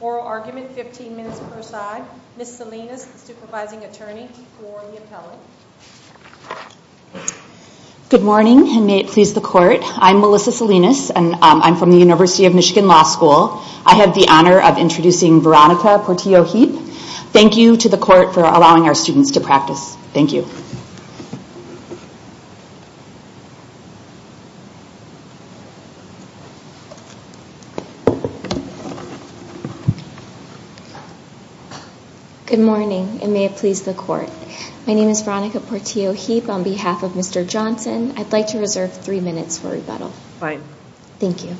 oral argument, 15 minutes per side. Ms. Salinas, the supervising attorney for the appellate. Good morning and may it please the court. I'm Melissa Salinas and I'm from the University of Michigan Law School. I have the honor of introducing Veronica Portillo-Heap. Thank you to the court for allowing our students to practice. Thank you. Good morning and may it please the court. My name is Veronica Portillo-Heap on behalf of Mr. Johnson. I'd like to reserve three minutes for rebuttal. Fine. Thank you.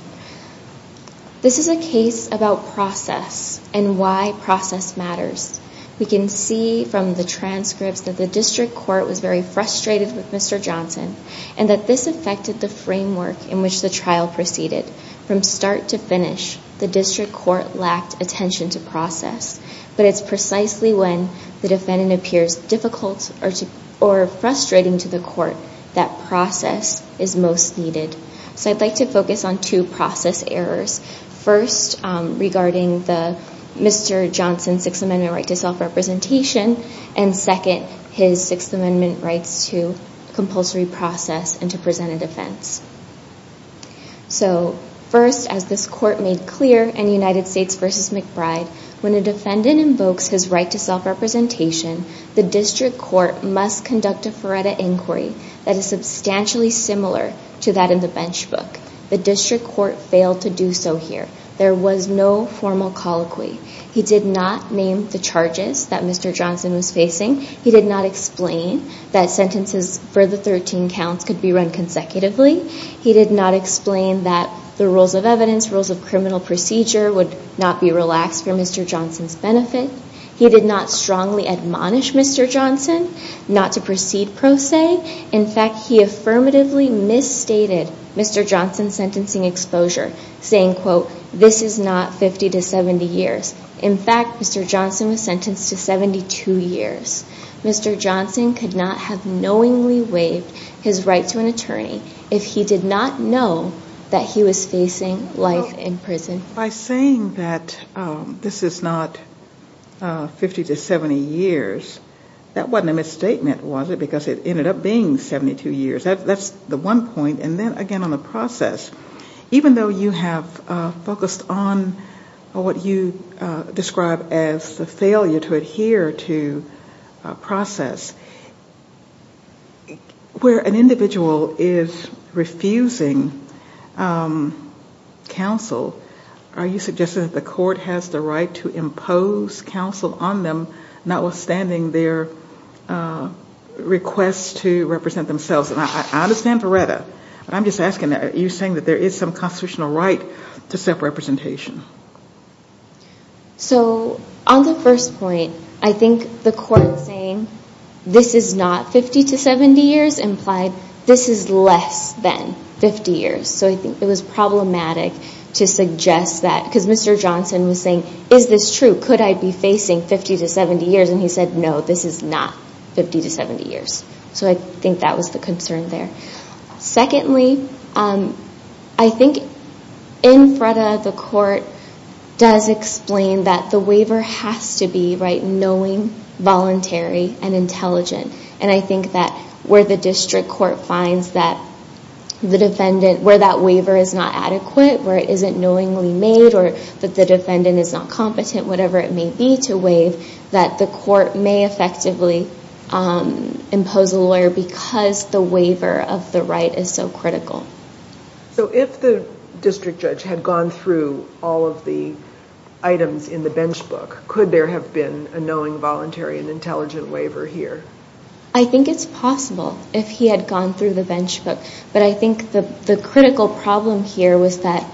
This is a case about process and why process matters. We can see from the transcripts that the district court was very frustrated with Mr. Johnson and that this affected the framework in which the trial proceeded. From start to finish, the district court lacked attention to process. But it's precisely when the defendant appears difficult or frustrating to the court that process is most needed. I'd like to focus on two process errors. First, regarding Mr. Johnson's Sixth Amendment right to self-representation and second, his Sixth Amendment rights to compulsory process and to present a defense. First, as this court made clear in United States v. McBride, when a defendant invokes his right to self-representation, the district court must conduct a FARETA inquiry that is substantially similar to that in the bench book. The district court failed to do so here. There was no formal colloquy. He did not name the charges that Mr. Johnson was facing. He did not explain that sentences for the 13 counts could be run consecutively. He did not explain that the rules of evidence, rules of criminal procedure, would not be relaxed for Mr. Johnson's benefit. He did not strongly admonish Mr. Johnson not to proceed pro se. In fact, he affirmatively misstated Mr. Johnson's sentencing exposure, saying, quote, this is not 50 to 70 years. In fact, Mr. Johnson was sentenced to 72 years. Mr. Johnson could not have knowingly waived his right to an attorney if he did not know that he was facing life in prison. By saying that this is not 50 to 70 years, that wasn't a misstatement, was it? Because it ended up being 72 years. That's the one point. And then, again, on the process, even though you have focused on what you describe as the failure to adhere to process, where an individual is refusing counsel, are you suggesting that the court has the right to represent themselves? And I understand Veretta, but I'm just asking, are you saying that there is some constitutional right to self-representation? So on the first point, I think the court saying this is not 50 to 70 years implied this is less than 50 years. So I think it was problematic to suggest that. Because Mr. Johnson was saying, is this true? Could I be facing 50 to 70 years? And he said, no, this is not 50 to 70 years. So I think that was the concern there. Secondly, I think in Veretta, the court does explain that the waiver has to be knowing, voluntary, and intelligent. And I think that where the district court finds that the defendant, where that waiver is not adequate, where it isn't knowingly made, or that the defendant is not competent, whatever it may be to waive, that the court may effectively impose a lawyer because the waiver of the right is so critical. So if the district judge had gone through all of the items in the bench book, could there have been a knowing, voluntary, and intelligent waiver here? I think it's possible if he had gone through the bench book. But I think the critical problem here was that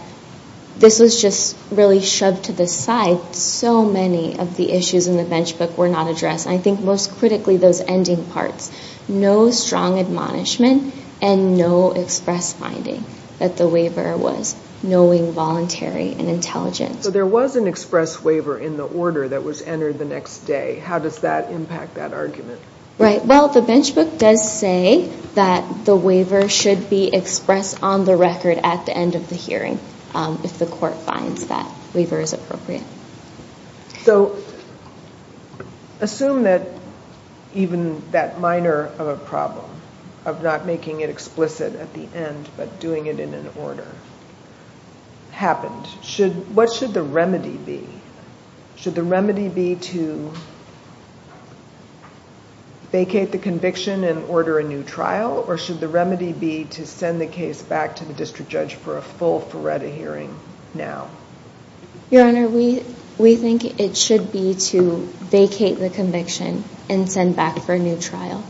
this was just really shoved to the side. So many of the issues in the bench book were not addressed. And I think most critically, those ending parts. No strong admonishment and no express finding that the waiver was knowing, voluntary, and intelligent. So there was an express waiver in the order that was entered the next day. How does that impact that argument? Right. Well, the bench book does say that the waiver should be expressed on the record at the end of the hearing if the court finds that waiver is appropriate. So assume that even that minor of a problem, of not making it explicit at the end but doing it in an order, happened. What should the remedy be? Should the remedy be to vacate the conviction and order a new trial? Or should the remedy be to send the case back to the district judge for a full FARETA hearing now? Your Honor, we think it should be to vacate the conviction and send back for a new trial.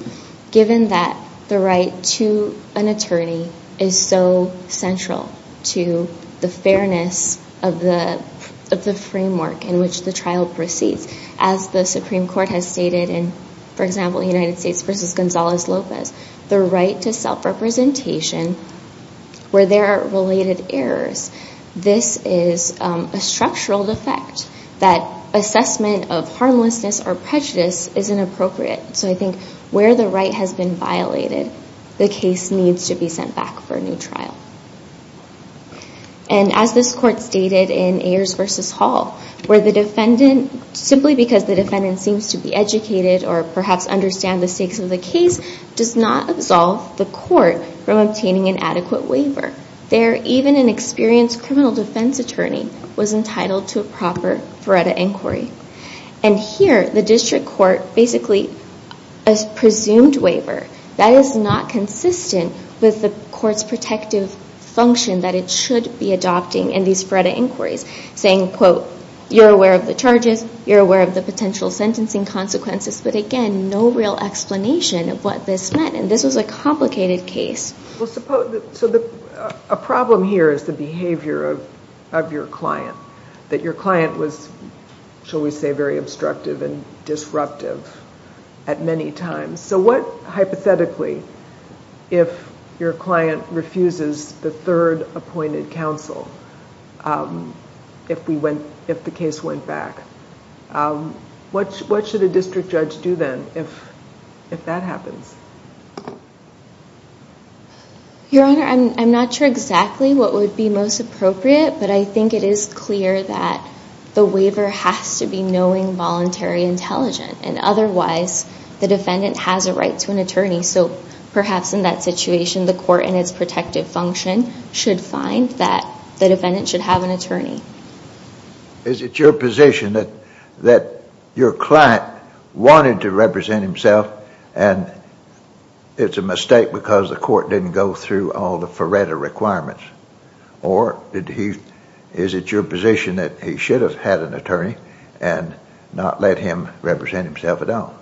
Given that the right to an attorney is so central to the fairness of the framework in which the trial proceeds. As the Supreme Court has stated in, for example, United States v. Gonzalez Lopez, the right to self-representation where there are related errors. This is a structural defect that assessment of harmlessness or prejudice is inappropriate. So I think where the right has been violated, the case needs to be sent back for a new trial. And as this Court stated in Ayers v. Hall, where the defendant, simply because the defendant seems to be educated or perhaps understand the stakes of the case, does not absolve the court from obtaining an adequate waiver. There, even an experienced criminal defense attorney was entitled to a proper FARETA inquiry. And here, the district court basically, a presumed waiver that is not consistent with the court's protective function that it should be adopting in these FARETA inquiries. Saying, quote, you're aware of the charges, you're aware of the potential sentencing consequences, but again, no real explanation of what this meant. And this was a complicated case. Well, so a problem here is the behavior of your client. That your client was, shall we say, very obstructive and disruptive at many times. So what, hypothetically, if your client refuses the third appointed counsel, if the case went back, what would you do? What would you do? What should a district judge do then if that happens? Your Honor, I'm not sure exactly what would be most appropriate, but I think it is clear that the waiver has to be knowing, voluntary, intelligent. And otherwise, the defendant has a right to an attorney. So perhaps in that situation, the court in its protective function should find that the defendant should have an attorney. Is it your position that your client wanted to represent himself and it's a mistake because the court didn't go through all the FARETA requirements? Or is it your position that he should have had an attorney and not let him represent himself at all?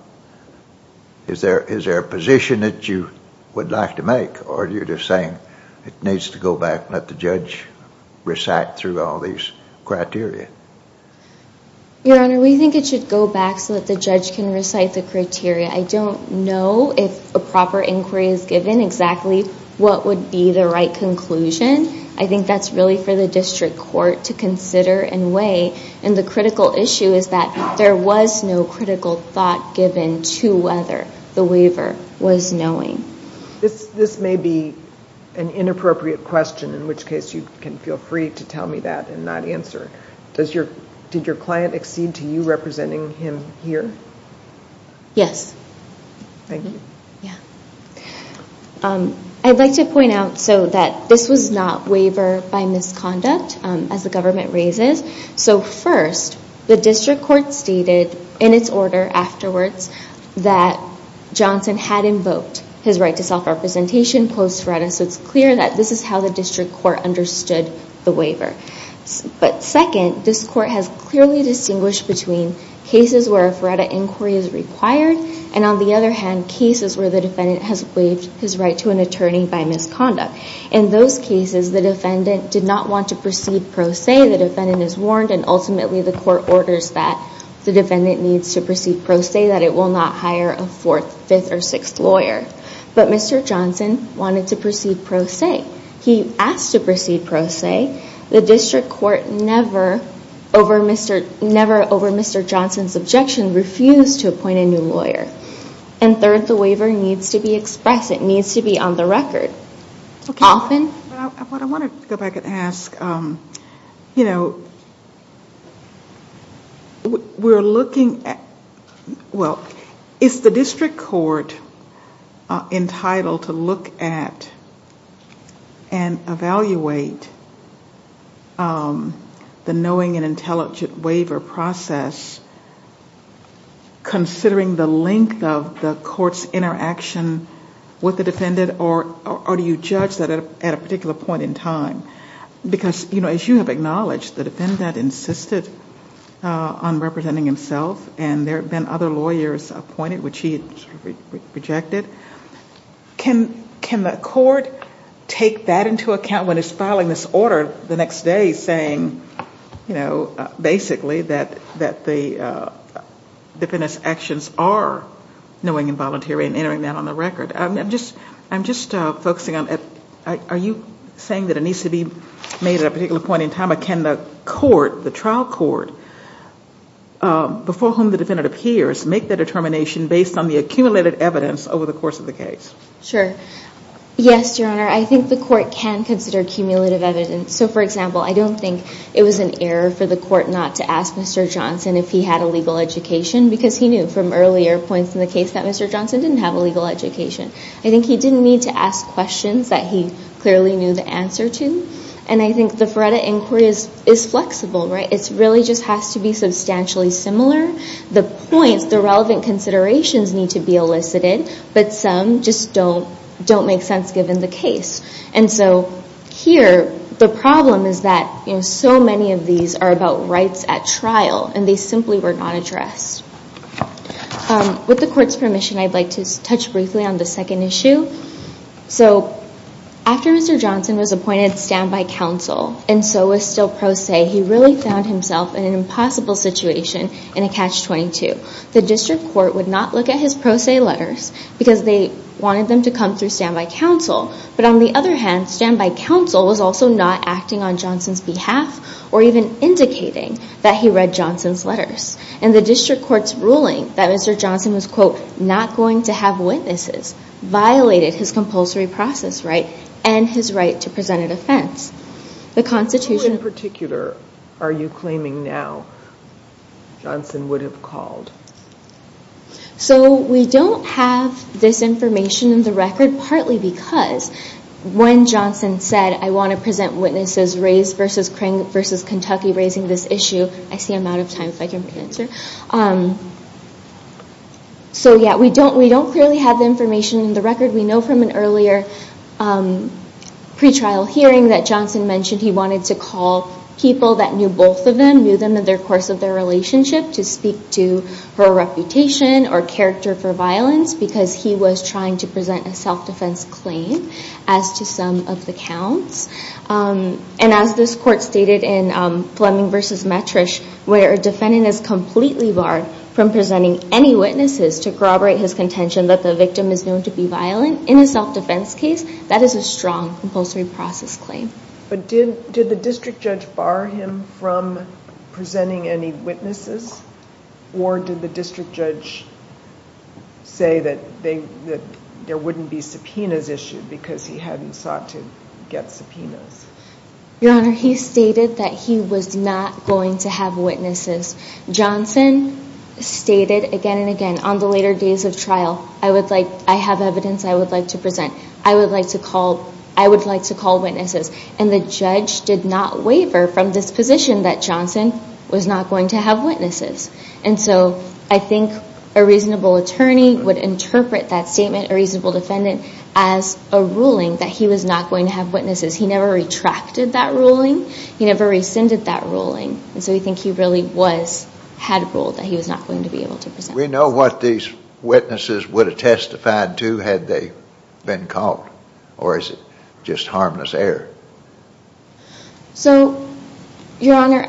Is there a position that you would like to make? Or are you just saying it needs to go back and let the judge recite through all these criteria? Your Honor, we think it should go back so that the judge can recite the criteria. I don't know if a proper inquiry is given exactly what would be the right conclusion. I think that's really for the district court to consider and weigh. And the critical issue is that there was no critical thought given to whether the waiver was knowing. This may be an inappropriate question, in which case you can feel free to tell me that and not answer. Did your client accede to you representing him here? I'd like to point out so that this was not waiver by misconduct, as the government raises. So first, the district court stated in its order afterwards that Johnson had invoked his right to self-representation post-FARETA. So it's clear that this is how the district court understood the waiver. But second, this court has clearly distinguished between cases where a FARETA inquiry is required, and on the other hand, cases where the defendant has waived his right to an attorney by misconduct. In those cases, the defendant did not want to proceed pro se. The defendant is warned, and ultimately the court orders that the defendant needs to proceed pro se, that it will not hire a fourth, fifth, or sixth lawyer. But Mr. Johnson wanted to proceed pro se. He asked to proceed pro se. The district court never over Mr. Johnson's objection refused to appoint a new lawyer. And third, the waiver needs to be expressed. It needs to be on the record. Often... I want to go back and ask, you know, we're looking at this case, and we're looking at well, is the district court entitled to look at and evaluate the knowing and intelligent waiver process, considering the length of the court's interaction with the defendant, or do you judge that at a particular point in time? Because, you know, as you have acknowledged, the defendant insisted on representing himself, and there have been other lawyers appointed which he rejected. Can the court take that into account when it's filing this order the next day saying, you know, basically that the defendant's actions are knowing and voluntary and entering that on the record? I'm just focusing on, are you saying that it needs to be made at a particular point in time, or can the court, the trial court, before whom the defendant appears, make the determination based on the accumulated evidence over the course of the case? Sure. Yes, Your Honor, I think the court can consider cumulative evidence. So, for example, I don't think it was an error for the court not to ask Mr. Johnson if he had a legal education because he knew from earlier points in the case that Mr. Johnson didn't have a legal education. I think he didn't need to ask questions that he clearly knew the answer to. And I think the Faretta Inquiry is flexible, right? It really just has to be substantially similar. The points, the relevant considerations need to be elicited, but some just don't make sense given the case. And so here, the problem is that, you know, so many of these are about rights at trial, and they simply were not addressed. With the court's permission, I'd like to touch briefly on the second issue. So, after Mr. Johnson was appointed standby counsel, and so was still pro se, he really found himself in an impossible situation in a Catch-22. The district court would not look at his pro se letters because they wanted them to come through standby counsel. But on the other hand, standby counsel was also not acting on Johnson's behalf or even indicating that the district court's ruling that Mr. Johnson was, quote, not going to have witnesses, violated his compulsory process right and his right to present an offense. The Constitution... Who in particular are you claiming now Johnson would have called? So we don't have this information in the record, partly because when Johnson said, I want to present witnesses raised versus Kentucky raising this issue, I see I'm out of time, if I can answer. So, yeah, we don't clearly have the information in the record. We know from an earlier pre-trial hearing that Johnson mentioned he wanted to call people that knew both of them, knew them in the course of their relationship to speak to her reputation or character for violence because he was trying to present a self-defense claim as to some of the counts. And as this court stated in Fleming v. Metrish, where a defendant is completely barred from presenting any witnesses to corroborate his contention that the victim is known to be violent in a self-defense case, that is a strong compulsory process claim. But did the district judge bar him from presenting any witnesses or did the district judge say that there wouldn't be subpoenas issued because he hadn't sought to get subpoenas? Your Honor, he stated that he was not going to have witnesses. Johnson stated again and again on the later days of trial, I have evidence I would like to present. I would like to call witnesses. And the judge did not waver from this position that Johnson was not going to have witnesses. And so I think a reasonable attorney would interpret that statement, a reasonable defendant, as a ruling that he was not going to have witnesses. He never retracted that ruling. He never rescinded that ruling. And so we think he really was, had ruled that he was not going to be able to present. We know what these witnesses would have testified to had they been called or is it just harmless error? So, Your Honor,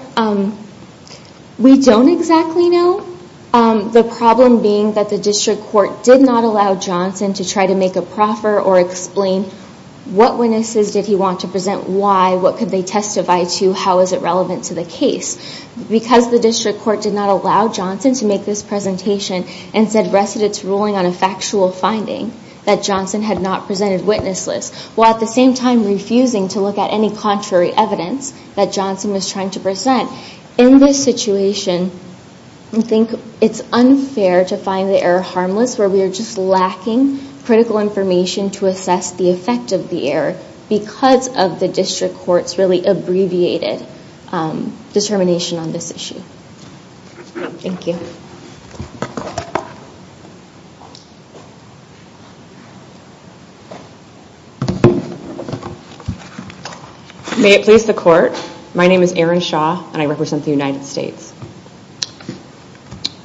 we don't exactly know. The problem being that the district court did not allow Johnson to try to make a proffer or explain what witnesses did he want to present, why, what could they testify to, how is it relevant to the case. Because the district court did not allow Johnson to make this presentation and said rested its ruling on a factual finding that Johnson had not presented witnesses. While at the same time refusing to look at any contrary evidence that Johnson was trying to present. In this situation, I think it's unfair to find the error harmless where we are just lacking critical information to assess the effect of the error because of the district court's really abbreviated determination on this issue. Thank you. May it please the court. My name is Erin Shaw and I represent the United States.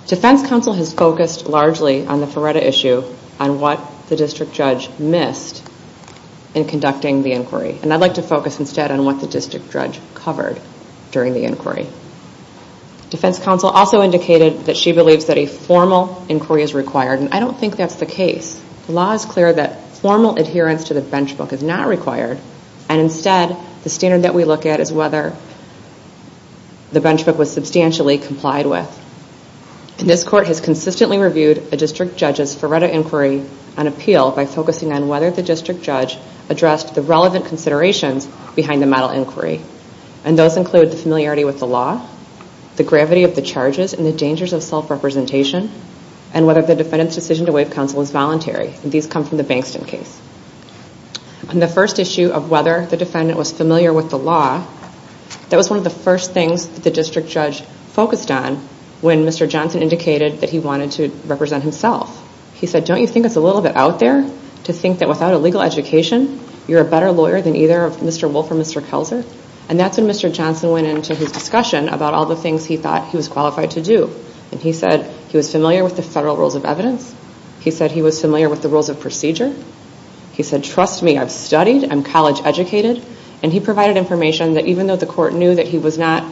Defense counsel has focused largely on the Ferretta issue on what the district judge missed in conducting the inquiry. And I'd like to focus instead on what the district judge covered during the inquiry. Defense counsel also indicated that she believes that a formal inquiry is required and I don't think that's the case. The law is clear that formal adherence to the bench book is not required and instead the standard that we look at is whether the bench book was substantially complied with. And this court has consistently reviewed a district judge's Ferretta inquiry and appeal by focusing on whether the district judge addressed the relevant considerations behind the model inquiry. And those include the familiarity with the law, the gravity of the charges and the dangers of self-representation, and whether the defendant's decision to waive counsel is voluntary. And these come from the Bankston case. On the first issue of whether the defendant was familiar with the law, that was one of the first things that the district judge focused on when Mr. Johnson indicated that he wanted to represent himself. He said, don't you think it's a little bit out there to think that without a legal education you're a better lawyer than either Mr. Wolfe or Mr. Kelzer? And that's when Mr. Johnson went into his discussion about all the things he thought he was qualified to do. And he said he was familiar with the federal rules of evidence. He said he was familiar with the rules of procedure. He said, trust me, I've studied, I'm college educated. And he provided information that even though the court knew that he was not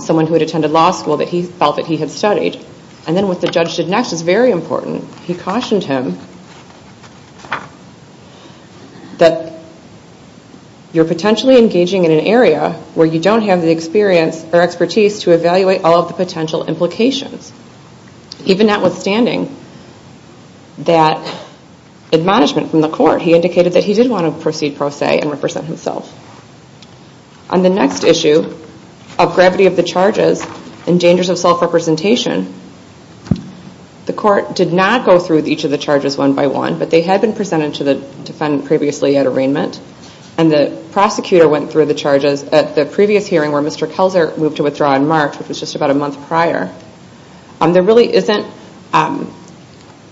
someone who had attended law school, that he felt that he had studied. And then what the judge did next is very important. He cautioned him that you're potentially engaging in an area where you don't have the experience or expertise to evaluate all of the potential implications. Even notwithstanding that admonishment from the court, he indicated that he did want to proceed pro se and represent himself. On the next issue, of gravity of the charges and dangers of self-representation, the court did not go through each of the charges one by one, but they had been presented to the defendant previously at arraignment. And the prosecutor went through the charges at the previous hearing where Mr. Kelzer moved to withdraw in March, which was just about a month prior. There really isn't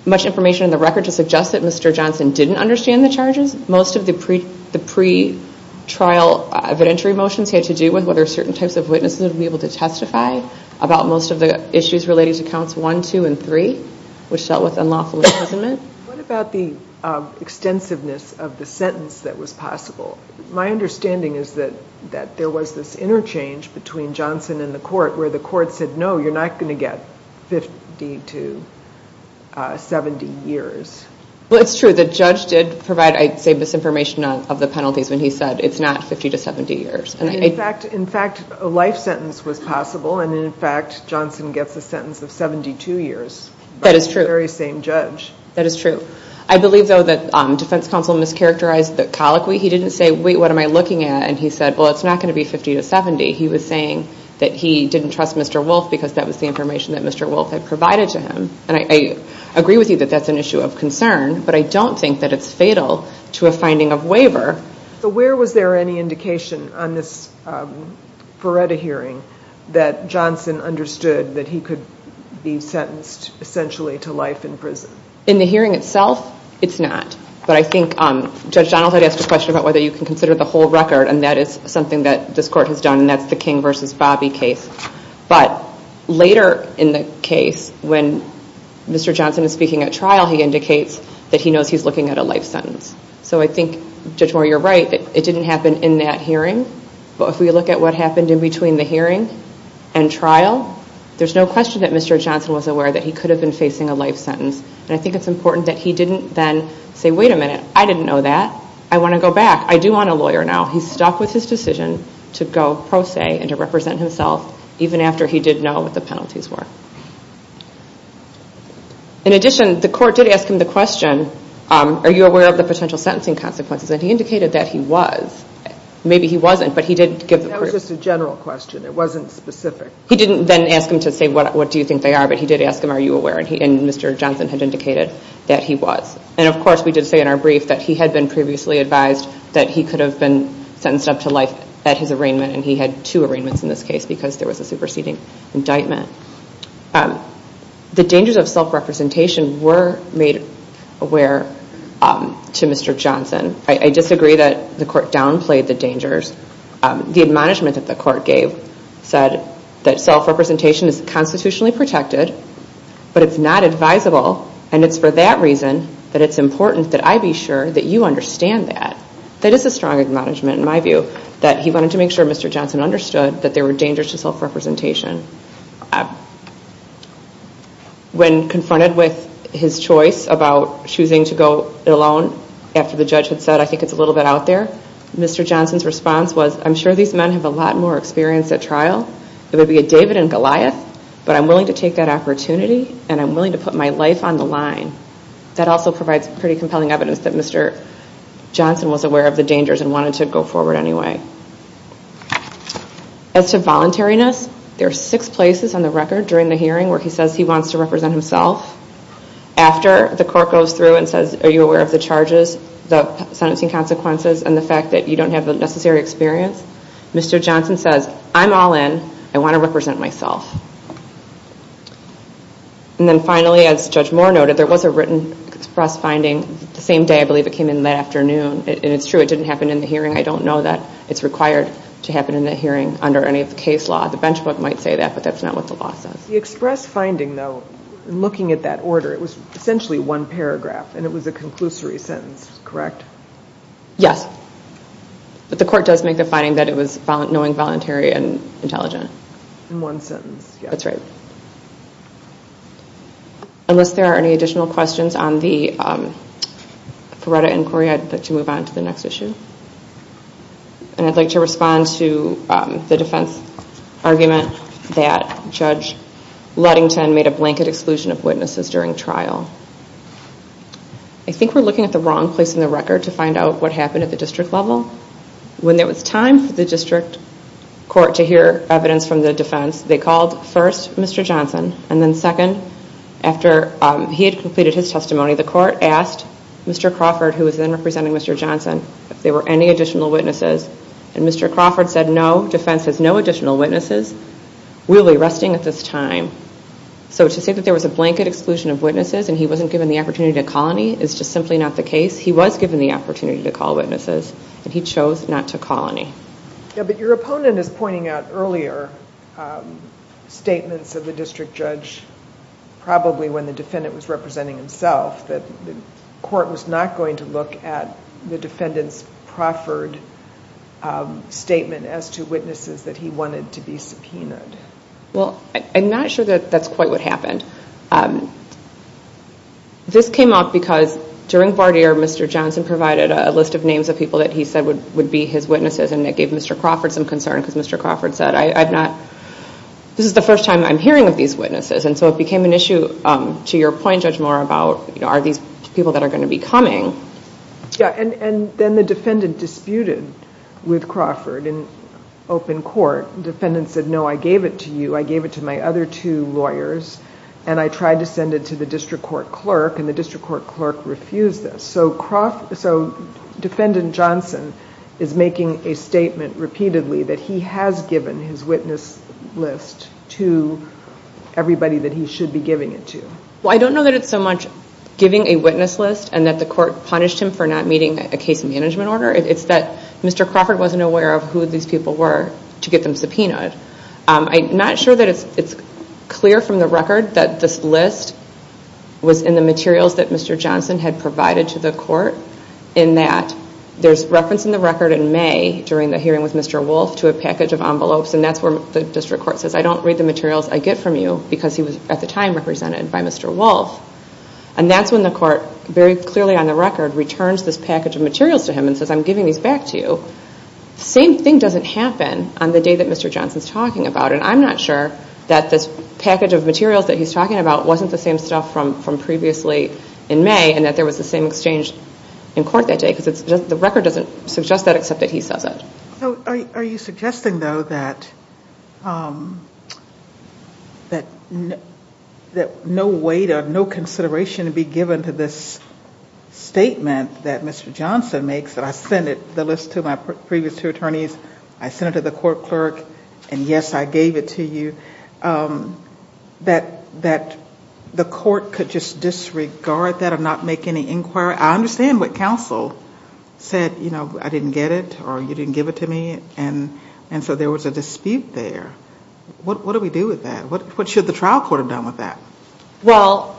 much information in the record to suggest that Mr. Johnson didn't understand the charges. Most of the pretrial evidentiary motions had to do with whether certain types of witnesses would be able to testify about most of the issues relating to counts one, two, and three, which dealt with unlawful imprisonment. What about the extensiveness of the sentence that was possible? My understanding is that there was this interchange between Johnson and the court where the court said, no, you're not going to get 50 to 70 years. Well, it's true. The judge did provide, I'd say, misinformation of the penalties when he said it's not 50 to 70 years. In fact, a life sentence was possible, and in fact, Johnson gets a sentence of 72 years by the very same judge. That is true. I believe, though, that defense counsel mischaracterized the colloquy. He didn't say, wait, what am I looking at? And he said, well, it's not going to be 50 to 70. He was saying that he didn't trust Mr. Wolfe. He didn't trust the information that Mr. Wolfe had provided to him, and I agree with you that that's an issue of concern, but I don't think that it's fatal to a finding of waiver. Where was there any indication on this Feretta hearing that Johnson understood that he could be sentenced essentially to life in prison? In the hearing itself, it's not, but I think Judge Donald had asked a question about whether you can consider the whole record, and that is something that this court has done, and that's the King v. Bobby case, but later in the case, when Mr. Johnson is speaking at trial, he indicates that he knows he's looking at a life sentence. So I think, Judge Moore, you're right. It didn't happen in that hearing, but if we look at what happened in between the hearing and trial, there's no question that Mr. Johnson was aware that he could have been facing a life sentence, and I think it's important that he didn't then say, wait a minute, I didn't know that. I want to go back. I do want a lawyer now. He's stuck with his decision to go pro se and to represent himself, even after he did know what the penalties were. In addition, the court did ask him the question, are you aware of the potential sentencing consequences? And he indicated that he was. Maybe he wasn't, but he did give the court a... That was just a general question. It wasn't specific. He didn't then ask him to say, what do you think they are? But he did ask him, are you aware? And Mr. Johnson had indicated that he was. And of course, we did say in our brief that he had been previously advised that he could have been sentenced up to life at his arraignment, and he had two arraignments in this case because there was a superseding indictment. The dangers of self-representation were made aware to Mr. Johnson. I disagree that the court downplayed the dangers. The admonishment that the court gave said that self-representation is constitutionally protected, but it's not advisable, and it's for that reason that it's important that I be sure that you understand that. That is a strong admonishment in my view, that he wanted to make sure Mr. Johnson understood that there were dangers to self-representation. When confronted with his choice about choosing to go alone after the judge had said, I think it's a little bit out there, Mr. Johnson's response was, I'm sure these men have a lot more experience at trial. It would be a David and Goliath, but I'm willing to take that opportunity, and I'm willing to put my life on the line. That also provides pretty compelling evidence that Mr. Johnson was aware of the dangers and wanted to go forward anyway. As to voluntariness, there are six places on the record during the hearing where he says he wants to represent himself. After the court goes through and says, are you aware of the charges, the sentencing consequences, and the fact that you don't have the necessary experience, Mr. Johnson says, I'm all in. I want to represent myself. Finally, as Judge Moore noted, there was a written express finding the same day, I believe it came in that afternoon. It's true it didn't happen in the hearing. I don't know that it's required to happen in the hearing under any of the case law. The bench book might say that, but that's not what the law says. The express finding, though, looking at that order, it was essentially one paragraph, and it was a conclusory sentence, correct? Yes. The court does make the finding that it was knowing, voluntary, and intelligent. In one sentence, yes. That's right. Unless there are any additional questions on the Ferretta inquiry, I'd like to move on to the next issue. I'd like to respond to the defense argument that Judge Ludington made a blanket exclusion of witnesses during trial. I think we're looking at the wrong place in the record to find out what happened at the district level. When there was time for the district court to hear evidence from the defense, they called, first, Mr. Johnson, and then second, after he had completed his testimony, the court asked Mr. Crawford, who was then representing Mr. Johnson, if there were any additional witnesses. Mr. Crawford said, no, defense has no additional witnesses. We'll be resting at this time. To say that there was a blanket exclusion of witnesses, and he wasn't given the opportunity to call any, is just simply not the case. He was given the opportunity to call witnesses, and he chose not to call any. Your opponent is pointing out earlier statements of the district judge, probably when the defendant was representing himself, that the court was not going to look at the defendant's Crawford statement as to witnesses that he wanted to be subpoenaed. I'm not sure that that's quite what happened. This came up because during Bardere, Mr. Johnson provided a list of names of people that he said would be his witnesses, and that gave Mr. Crawford some concern, because Mr. Crawford said, this is the first time I'm hearing of these witnesses. It became an issue, to your point, Judge Moore, about are these people that are going to be coming? Then the defendant disputed with Crawford in open court. The defendant said, no, I gave it to you. I gave it to my other two lawyers, and I tried to send it to the district court Defendant Johnson is making a statement repeatedly that he has given his witness list to everybody that he should be giving it to. I don't know that it's so much giving a witness list and that the court punished him for not meeting a case management order. It's that Mr. Crawford wasn't aware of who these people were to get them subpoenaed. I'm not sure that it's clear from the record that this is the same stuff from previously in May, and that there was the same exchange of materials in court that day, because the record doesn't suggest that except that he says it. Are you suggesting, though, that no weight or no consideration be given to this statement that Mr. Johnson makes, that I send the list to my previous two attorneys, I send it to the court clerk, and yes, I gave it to you, that the court could just disregard that and not make any inquiry? I understand what counsel said, you know, I didn't get it, or you didn't give it to me, and so there was a dispute there. What do we do with that? What should the trial court have done with that? Well,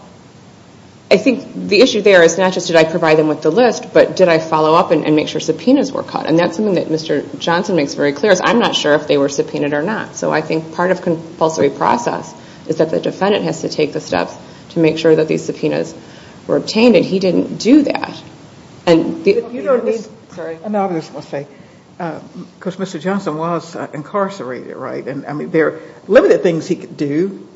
I think the issue there is not just did I provide them with the list, but did I follow up and make sure subpoenas were caught, and that's something that Mr. Johnson makes very clear, is I'm not sure if they were subpoenaed or not. So I think part of compulsory process is that the defendant has to take the steps to make sure that these subpoenas were obtained, and he didn't do that. And you don't need, sorry, I know I'm just going to say, because Mr. Johnson was incarcerated, right, and I mean, there are limited things he could do.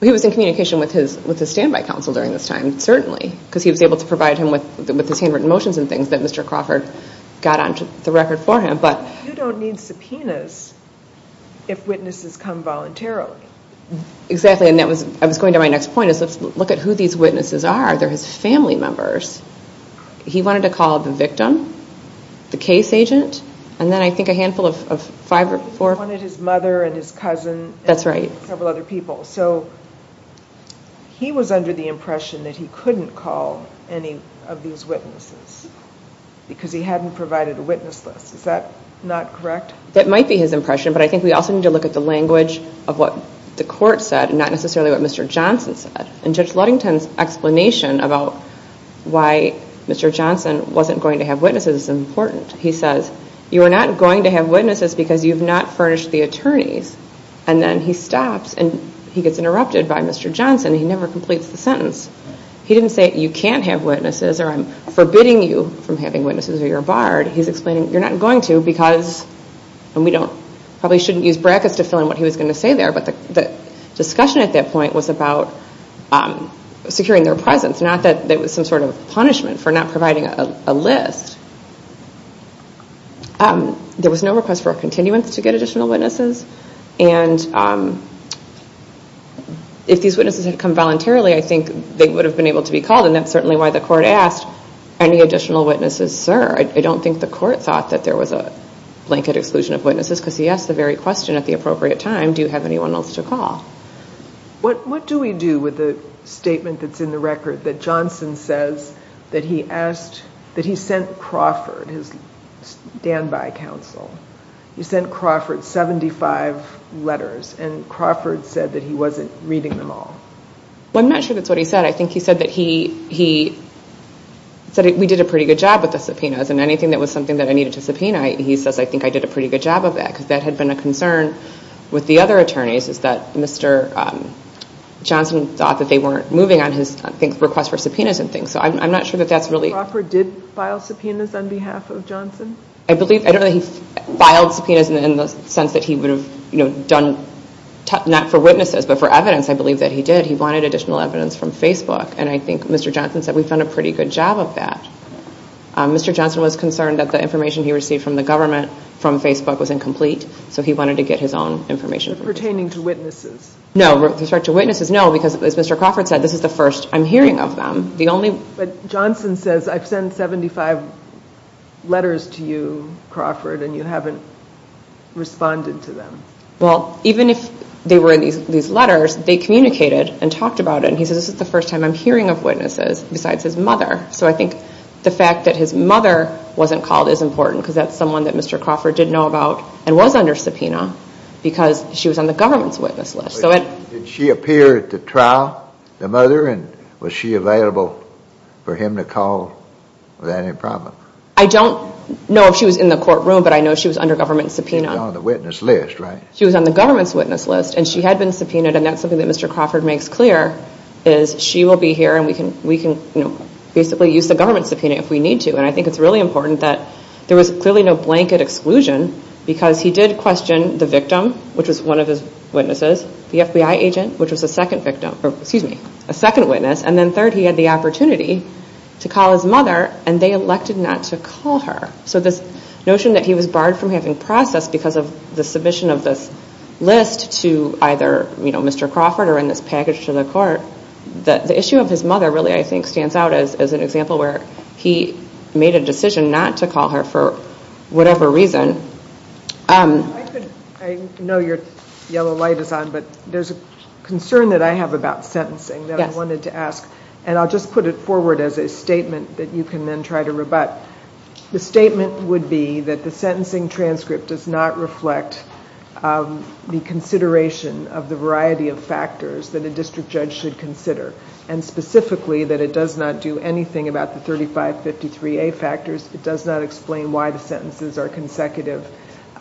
He was in communication with his standby counsel during this time, certainly, because he was able to provide him with his handwritten motions and things that Mr. Crawford got onto the record for him, but... If witnesses come voluntarily. Exactly, and that was, I was going to my next point, is let's look at who these witnesses are. They're his family members. He wanted to call the victim, the case agent, and then I think a handful of five or four... He wanted his mother and his cousin and several other people, so he was under the impression that he couldn't call any of these witnesses, because he hadn't provided a witness list. Is that not correct? That might be his impression, but I think we also need to look at the language of what the court said, not necessarily what Mr. Johnson said. And Judge Ludington's explanation about why Mr. Johnson wasn't going to have witnesses is important. He says, you are not going to have witnesses because you've not furnished the attorneys, and then he stops and he gets interrupted by Mr. Johnson. He never completes the sentence. He didn't say, you can't have witnesses or I'm forbidding you from having witnesses or you're barred. He's explaining, you're not going to because, and we probably shouldn't use brackets to fill in what he was going to say there, but the discussion at that point was about securing their presence, not that there was some sort of punishment for not providing a list. There was no request for a continuance to get additional witnesses, and if these witnesses had come voluntarily, I think they would have been able to be called, and that's certainly why the court asked, any additional witnesses, sir? I don't think the court thought that there was a blanket exclusion of witnesses because he asked the very question at the appropriate time, do you have anyone else to call? What do we do with the statement that's in the record that Johnson says that he asked, that he sent Crawford, his standby counsel, he sent Crawford 75 letters and Crawford said that he wasn't reading them all? I'm not sure that's what he said. I think he said that he, he said we did a pretty good job with the subpoenas and anything that was something that I needed to subpoena, he says I think I did a pretty good job of that because that had been a concern with the other attorneys is that Mr. Johnson thought that they weren't moving on his request for subpoenas and things, so I'm not sure that that's really... Crawford did file subpoenas on behalf of Johnson? I believe, I don't know that he filed subpoenas in the sense that he would have done, not for witnesses, but for evidence, I believe that he did. He wanted additional evidence from Facebook and I think Mr. Johnson said we've done a pretty good job of that. Mr. Johnson was concerned that the information he received from the government from Facebook was incomplete, so he wanted to get his own information. Pertaining to witnesses? No, with respect to witnesses, no, because as Mr. Crawford said, this is the first I'm hearing of them. The only... Johnson says I've sent 75 letters to you, Crawford, and you haven't responded to them. Well, even if they were in these letters, they communicated and talked about it, and he says this is the first time I'm hearing of witnesses besides his mother, so I think the fact that his mother wasn't called is important because that's someone that Mr. Crawford didn't know about and was under subpoena because she was on the government's witness list, so it... Did she appear at the trial, the mother, and was she available for him to call without any problem? I don't know if she was in the courtroom, but I know she was under government subpoena. She was on the witness list, right? She was on the government's witness list, and she had been subpoenaed, and that's something that Mr. Crawford makes clear is she will be here, and we can basically use the government subpoena if we need to, and I think it's really important that there was clearly no blanket exclusion because he did question the victim, which was one of his witnesses, the FBI agent, which was a second victim, excuse me, a second witness, and then third, he had the opportunity to call his mother, and they elected not to call her, so this notion that he was barred from having process because of the submission of this list to either Mr. Crawford or in this package to the court, the issue of his mother really, I think, stands out as an example where he made a decision not to call her for whatever reason. I know your yellow light is on, but there's a concern that I have about sentencing that I wanted to ask, and I'll just put it forward as a statement that you can then try to rebut. The statement would be that the sentencing transcript does not reflect the consideration of the variety of factors that a district judge should consider, and specifically that it does not do anything about the 3553A factors, it does not explain why the sentences are consecutive,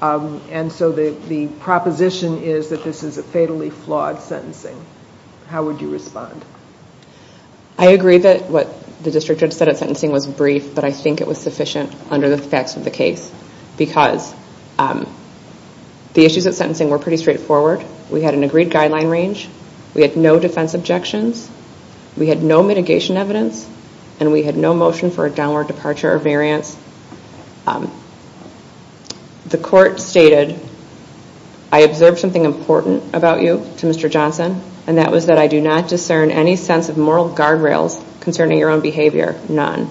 and so the proposition is that this is a fatally flawed sentencing. How would you respond? I agree that what the district judge said at sentencing was brief, but I think it was sufficient under the facts of the case, because the issues at sentencing were pretty straightforward. We had an agreed guideline range, we had no defense objections, we had no mitigation evidence, and we had no motion for a downward departure or variance. The court stated, I observed something important about you to Mr. Johnson, and that was that I do not discern any sense of moral guardrails concerning your own behavior, none.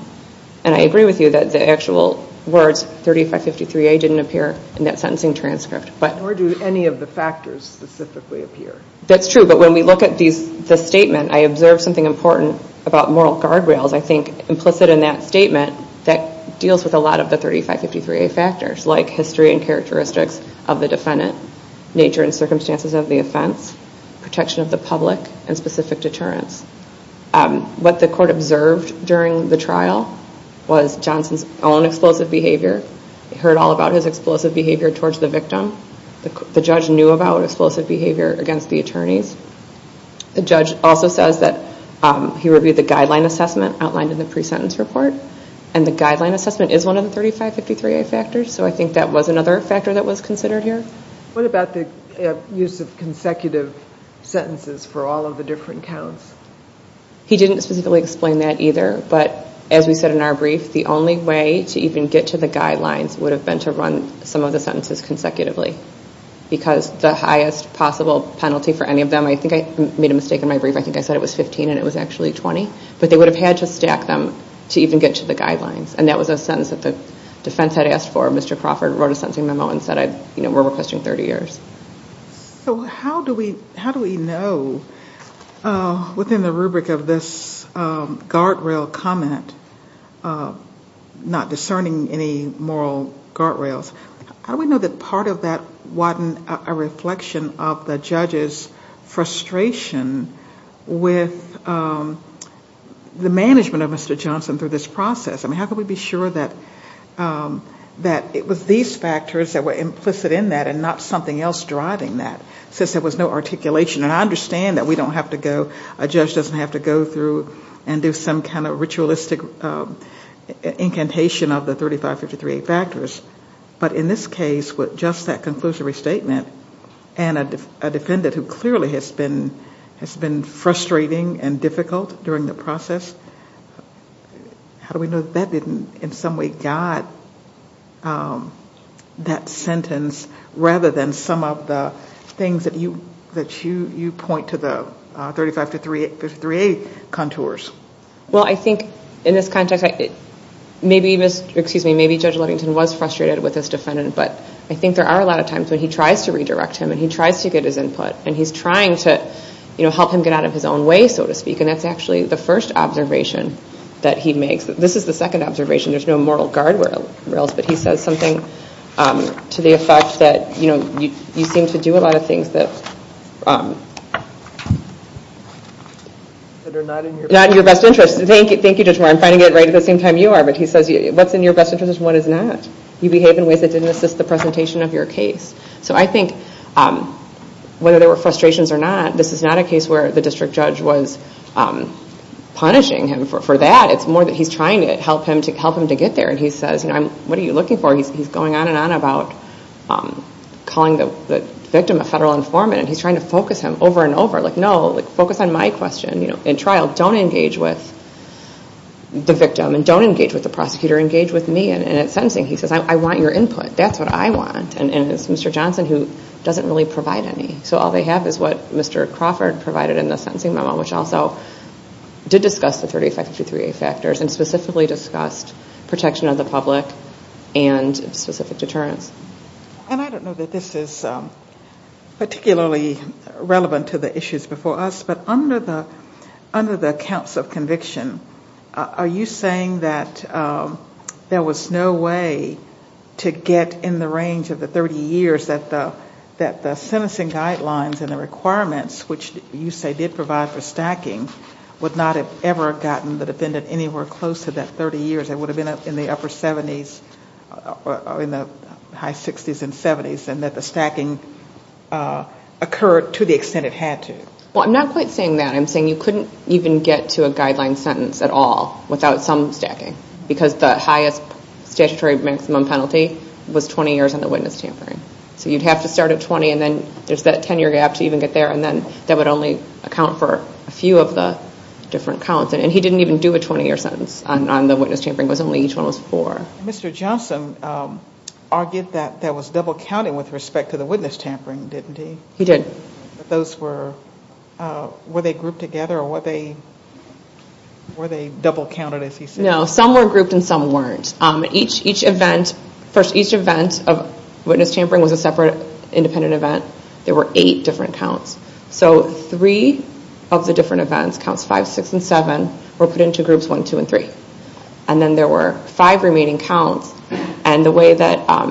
And I agree with you that the actual words 3553A didn't appear in that sentencing transcript. Nor do any of the factors specifically appear. That's true, but when we look at the statement, I observed something important about moral guardrails, I think implicit in that statement, that deals with a lot of the 3553A factors, like history and characteristics of the defendant, nature and circumstances of the offense, protection of the public, and specific deterrence. What the court observed during the trial was Johnson's own explosive behavior, heard all about his explosive behavior towards the victim. The judge knew about explosive behavior against the attorneys. The judge also says that he reviewed the guideline assessment outlined in the pre-sentence report, and the guideline assessment is one of the 3553A factors, so I think that was another factor that was considered here. What about the use of consecutive sentences for all of the different counts? He didn't specifically explain that either, but as we said in our brief, the only way to even get to the guidelines would have been to run some of the sentences consecutively. Because the highest possible penalty for any of them, I think I made a mistake in my brief, I think I said it was 15 and it was actually 20, but they would have had to stack them to even get to the guidelines. And that was a sentence that the defense had asked for, Mr. Crawford wrote a sentencing 30 years. So how do we know within the rubric of this guardrail comment, not discerning any moral guardrails, how do we know that part of that wasn't a reflection of the judge's frustration with the management of Mr. Johnson through this process? How can we be sure that it was these factors that were implicit in that and not something else driving that, since there was no articulation? And I understand that we don't have to go, a judge doesn't have to go through and do some kind of ritualistic incantation of the 3553A factors, but in this case, with just that conclusive restatement, and a defendant who clearly has been frustrating and difficult during the process, how do we know that that didn't in some way guide that sentence rather than some of the things that you point to the 3553A contours? Well I think in this context, maybe Judge Levington was frustrated with this defendant, but I think there are a lot of times when he tries to redirect him, and he tries to get his input, and he's trying to help him get out of his own way, so to speak, and that's actually the first observation that he makes. This is the second observation, there's no moral guardrails, but he says something to the effect that you seem to do a lot of things that are not in your best interest. Thank you Judge Moore, I'm finding it right at the same time you are, but he says what's in your best interest is what is not. You behave in ways that didn't assist the presentation of your case. So I think whether there were frustrations or not, this is not a case where the district judge was punishing him for that, it's more that he's trying to help him to get there, and he says what are you looking for? He's going on and on about calling the victim a federal informant, and he's trying to focus him over and over, like no, focus on my question. In trial, don't engage with the victim, and don't engage with the prosecutor, engage with me, and in sentencing he says I want your input, that's what I want, and it's Mr. Johnson who doesn't really provide any, so all they have is what Mr. Crawford provided in the sentencing memo, which also did discuss the 38553A factors, and specifically discussed protection of the public and specific deterrence. And I don't know that this is particularly relevant to the issues before us, but under the counts of conviction, are you saying that there was no way to get in the range of the 30 years that the sentencing guidelines and the requirements, which you say did provide for stacking, would not have ever gotten the defendant anywhere close to that 30 years? It would have been in the upper 70s, or in the high 60s and 70s, and that the stacking occurred to the extent it had to? Well, I'm not quite saying that. I'm saying you couldn't even get to a guideline sentence at all without some stacking, because the highest statutory maximum penalty was 20 years on the witness tampering. So you'd have to start at 20, and then there's that 10-year gap to even get there, and then that would only account for a few of the different counts. And he didn't even do a 20-year sentence on the witness tampering. It was only each one was four. Mr. Johnson argued that that was double-counted with respect to the witness tampering, didn't he? He did. Those were, were they grouped together, or were they double-counted, as he said? No, some were grouped and some weren't. Each event, first, each event of witness tampering was a separate, independent event. There were eight different counts. So three of the different events, counts 5, 6, and 7, were put into groups 1, 2, and 3. And then there were five remaining counts, and the way that, I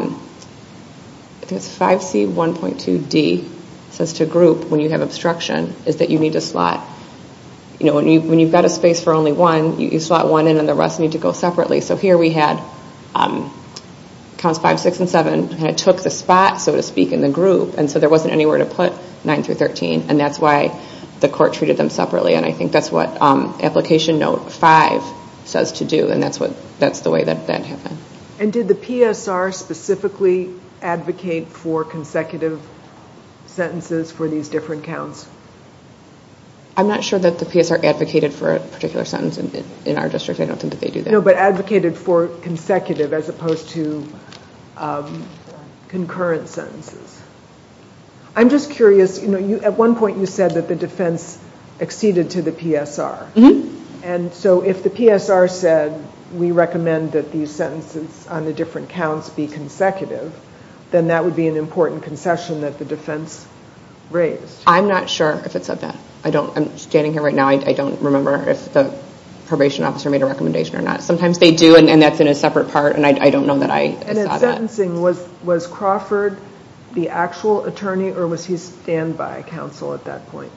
think it's 5C1.2D, says to group when you have obstruction is that you need to slot, you know, when you've got a space for only one, you slot one in and the rest need to go separately. So here we had counts 5, 6, and 7, and it took the spot, so to speak, in the group. And so there wasn't anywhere to put 9 through 13, and that's why the court treated them separately. And I think that's what Application Note 5 says to do, and that's what, that's the way that that happened. And did the PSR specifically advocate for consecutive sentences for these different counts? I'm not sure that the PSR advocated for a particular sentence in our district. I don't think that they do that. No, but advocated for consecutive as opposed to concurrent sentences. I'm just curious, you know, at one point you said that the defense acceded to the PSR. And so if the PSR said we recommend that these sentences on the different counts be consecutive, then that would be an important concession that the defense raised. I'm not sure if it said that. I don't, I'm standing here right now, I don't remember if the probation officer made a recommendation or not. Sometimes they do, and that's in a separate part, and I don't know that I saw that. And in sentencing, was Crawford the actual attorney, or was he a standby counsel at that point?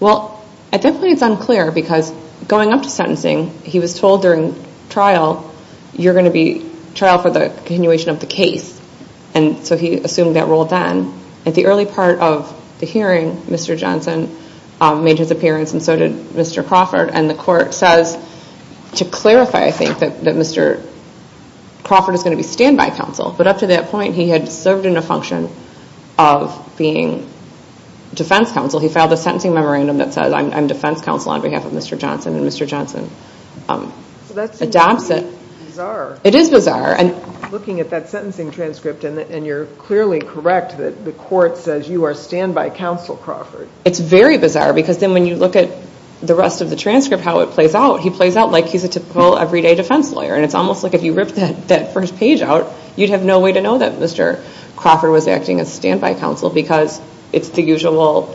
Well, at that point it's unclear, because going up to sentencing, he was told during trial, you're going to be trial for the continuation of the case. And so he assumed that role then. At the early part of the hearing, Mr. Johnson made his appearance, and so did Mr. Crawford. And the court says, to clarify I think, that Mr. Crawford is going to be standby counsel. But up to that point he had served in a function of being defense counsel. He filed a sentencing memorandum that says I'm defense counsel on behalf of Mr. Johnson, and Mr. Johnson adopts it. So that seems bizarre. It is bizarre. Looking at that sentencing transcript, and you're clearly correct that the court says you are standby counsel Crawford. It's very bizarre, because then when you look at the rest of the transcript, how it plays out, he plays out like he's a typical everyday defense lawyer. And it's almost like if you ripped that first page out, you'd have no way to know that Mr. Crawford was acting as standby counsel, because it's the usual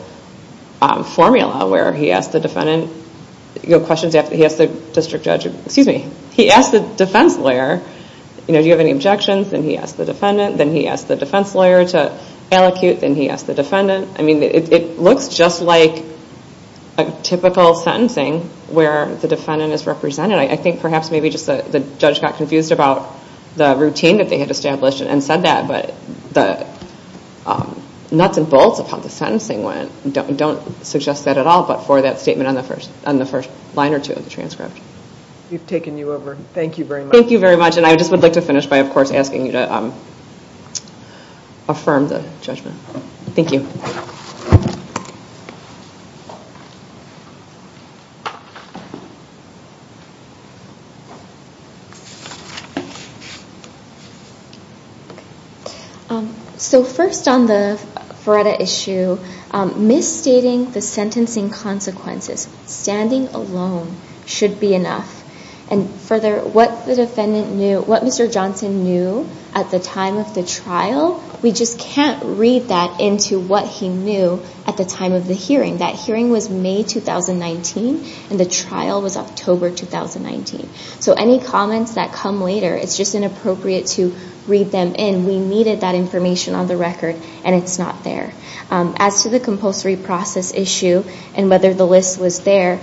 formula where he asks the defendant, he asks the district lawyer, do you have any objections, then he asks the defendant, then he asks the defense lawyer to allocute, then he asks the defendant. I mean, it looks just like a typical sentencing where the defendant is represented. I think perhaps maybe just the judge got confused about the routine that they had established and said that, but the nuts and bolts of how the sentencing went don't suggest that at all but for that statement on the first line or two of the transcript. We've taken you over. Thank you very much. Thank you very much, and I just would like to finish by, of course, asking you to affirm the judgment. Thank you. So first on the Feretta issue, misstating the sentencing consequences, standing alone should be enough. And further, what the defendant knew, what Mr. Johnson knew at the time of the trial, we just can't read that into what he knew at the time of the hearing. That hearing was May 2019, and the trial was October 2019. So any comments that come later, it's just inappropriate to read them in. We needed that information on the record, and it's not there. As to the compulsory process issue and whether the list was there,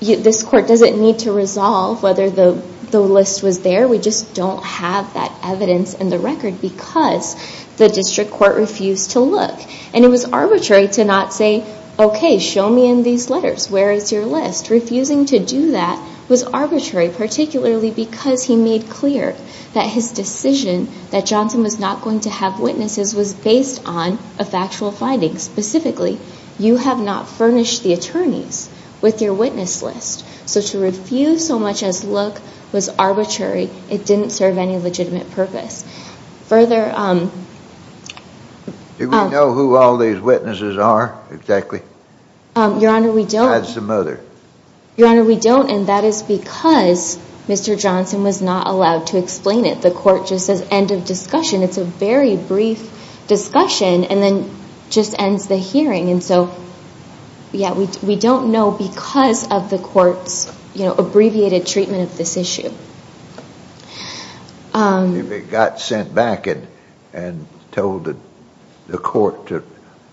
this Court doesn't need to resolve whether the list was there. We just don't have that evidence in the record because the district court refused to look. And it was arbitrary to not say, okay, show me in these letters where is your list. Refusing to do that was arbitrary, particularly because he made clear that his decision that Johnson was not going have witnesses was based on a factual finding. Specifically, you have not furnished the attorneys with your witness list. So to refuse so much as look was arbitrary, it didn't serve any legitimate purpose. Further... Do we know who all these witnesses are exactly? Your Honor, we don't. That's the mother. Your Honor, we don't, and that is because Mr. Johnson was not allowed to explain it. The Court just says end of discussion. It's a very brief discussion and then just ends the hearing. And so, yeah, we don't know because of the Court's, you know, abbreviated treatment of this issue. If it got sent back and told the Court to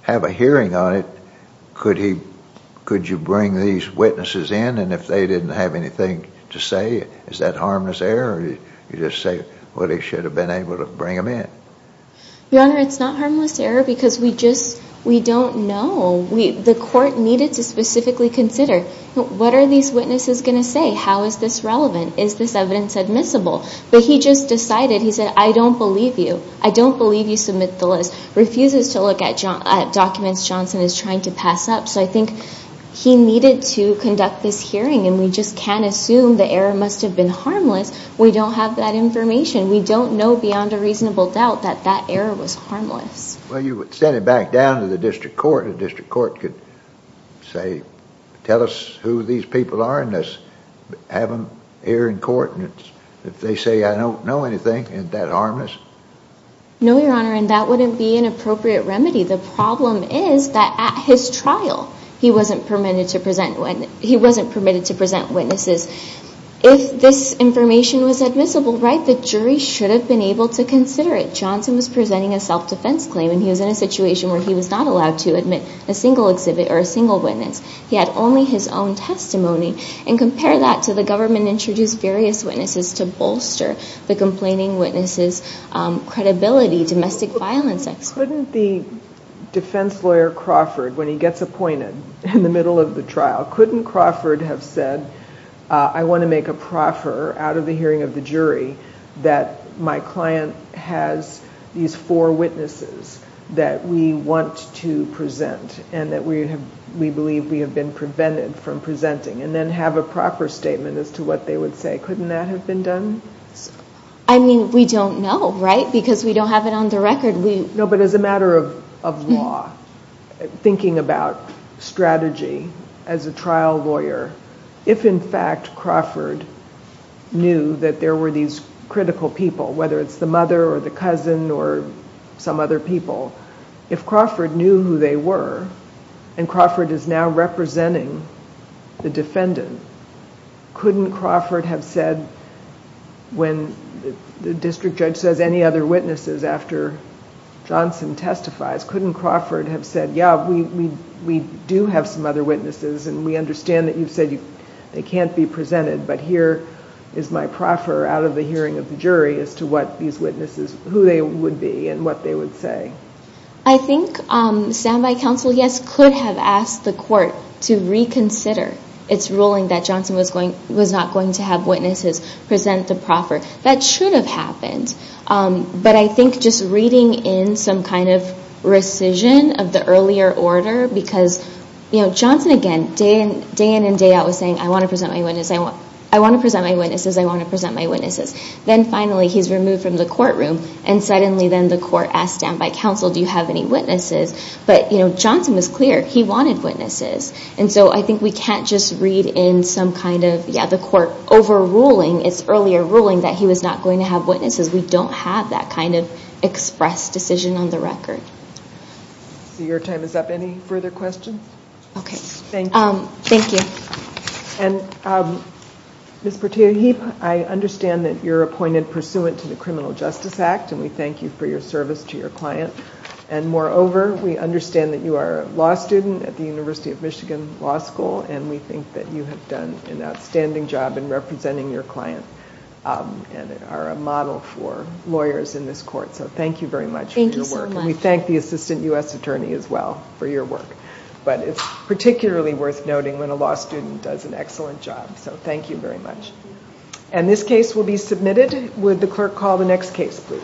have a hearing on it, could you bring these witnesses in? And if they didn't have anything to say, is that harmless error? You just say, well, they should have been able to bring them in. Your Honor, it's not harmless error because we just, we don't know. The Court needed to specifically consider what are these witnesses going to say? How is this relevant? Is this evidence admissible? But he just decided, he said, I don't believe you. I don't believe you submit the list. Refuses to look at documents Johnson is trying to pass up. So I think he needed to the error must have been harmless. We don't have that information. We don't know beyond a reasonable doubt that that error was harmless. Well, you would send it back down to the District Court. The District Court could say, tell us who these people are and let's have them here in court. And if they say, I don't know anything, isn't that harmless? No, Your Honor, and that wouldn't be an appropriate remedy. The problem is that at his trial, he wasn't permitted to present witnesses. If this information was admissible, right, the jury should have been able to consider it. Johnson was presenting a self-defense claim and he was in a situation where he was not allowed to admit a single exhibit or a single witness. He had only his own testimony and compare that to the government introduced various witnesses to bolster the complaining witnesses' credibility, domestic violence experts. Couldn't the defense lawyer Crawford, when he gets appointed in the middle of the trial, couldn't Crawford have said, I want to make a proffer out of the hearing of the jury that my client has these four witnesses that we want to present and that we believe we have been prevented from presenting and then have a proper statement as to what they would say. Couldn't that have been done? I mean, we don't know, right, because we don't have it on the record. No, but as a matter of law, thinking about strategy as a trial lawyer, if in fact Crawford knew that there were these critical people, whether it's the mother or the cousin or some other people, if Crawford knew who they were and Crawford is now representing the defendant, couldn't Crawford have said when the district judge says any other witnesses after Johnson testifies, couldn't Crawford have said, yeah, we do have some other witnesses and we understand that you've said they can't be presented, but here is my proffer out of the hearing of the jury as to what these witnesses, who they would be and what they would say. I think standby counsel, yes, could have asked the court to reconsider its ruling that Johnson was not going to have witnesses present the proffer. That should have happened, but I think just reading in some kind of rescission of the earlier order, because Johnson, again, day in and day out was saying, I want to present my witnesses, I want to present my witnesses. Then finally he's removed from the courtroom and suddenly then the have any witnesses, but Johnson was clear, he wanted witnesses. So I think we can't just read in some kind of, yeah, the court overruling its earlier ruling that he was not going to have witnesses. We don't have that kind of express decision on the record. Your time is up. Any further questions? Okay. Thank you. Ms. Portillo-Heap, I understand that you're appointed pursuant to the Criminal Justice Act and we thank you for your service to your client. Moreover, we understand that you are a law student at the University of Michigan Law School and we think that you have done an outstanding job in representing your client and are a model for lawyers in this court. So thank you very much for your work. Thank you so much. We thank the Assistant U.S. Attorney as well for your work, but it's particularly worth noting when a law student does an excellent job. So thank you very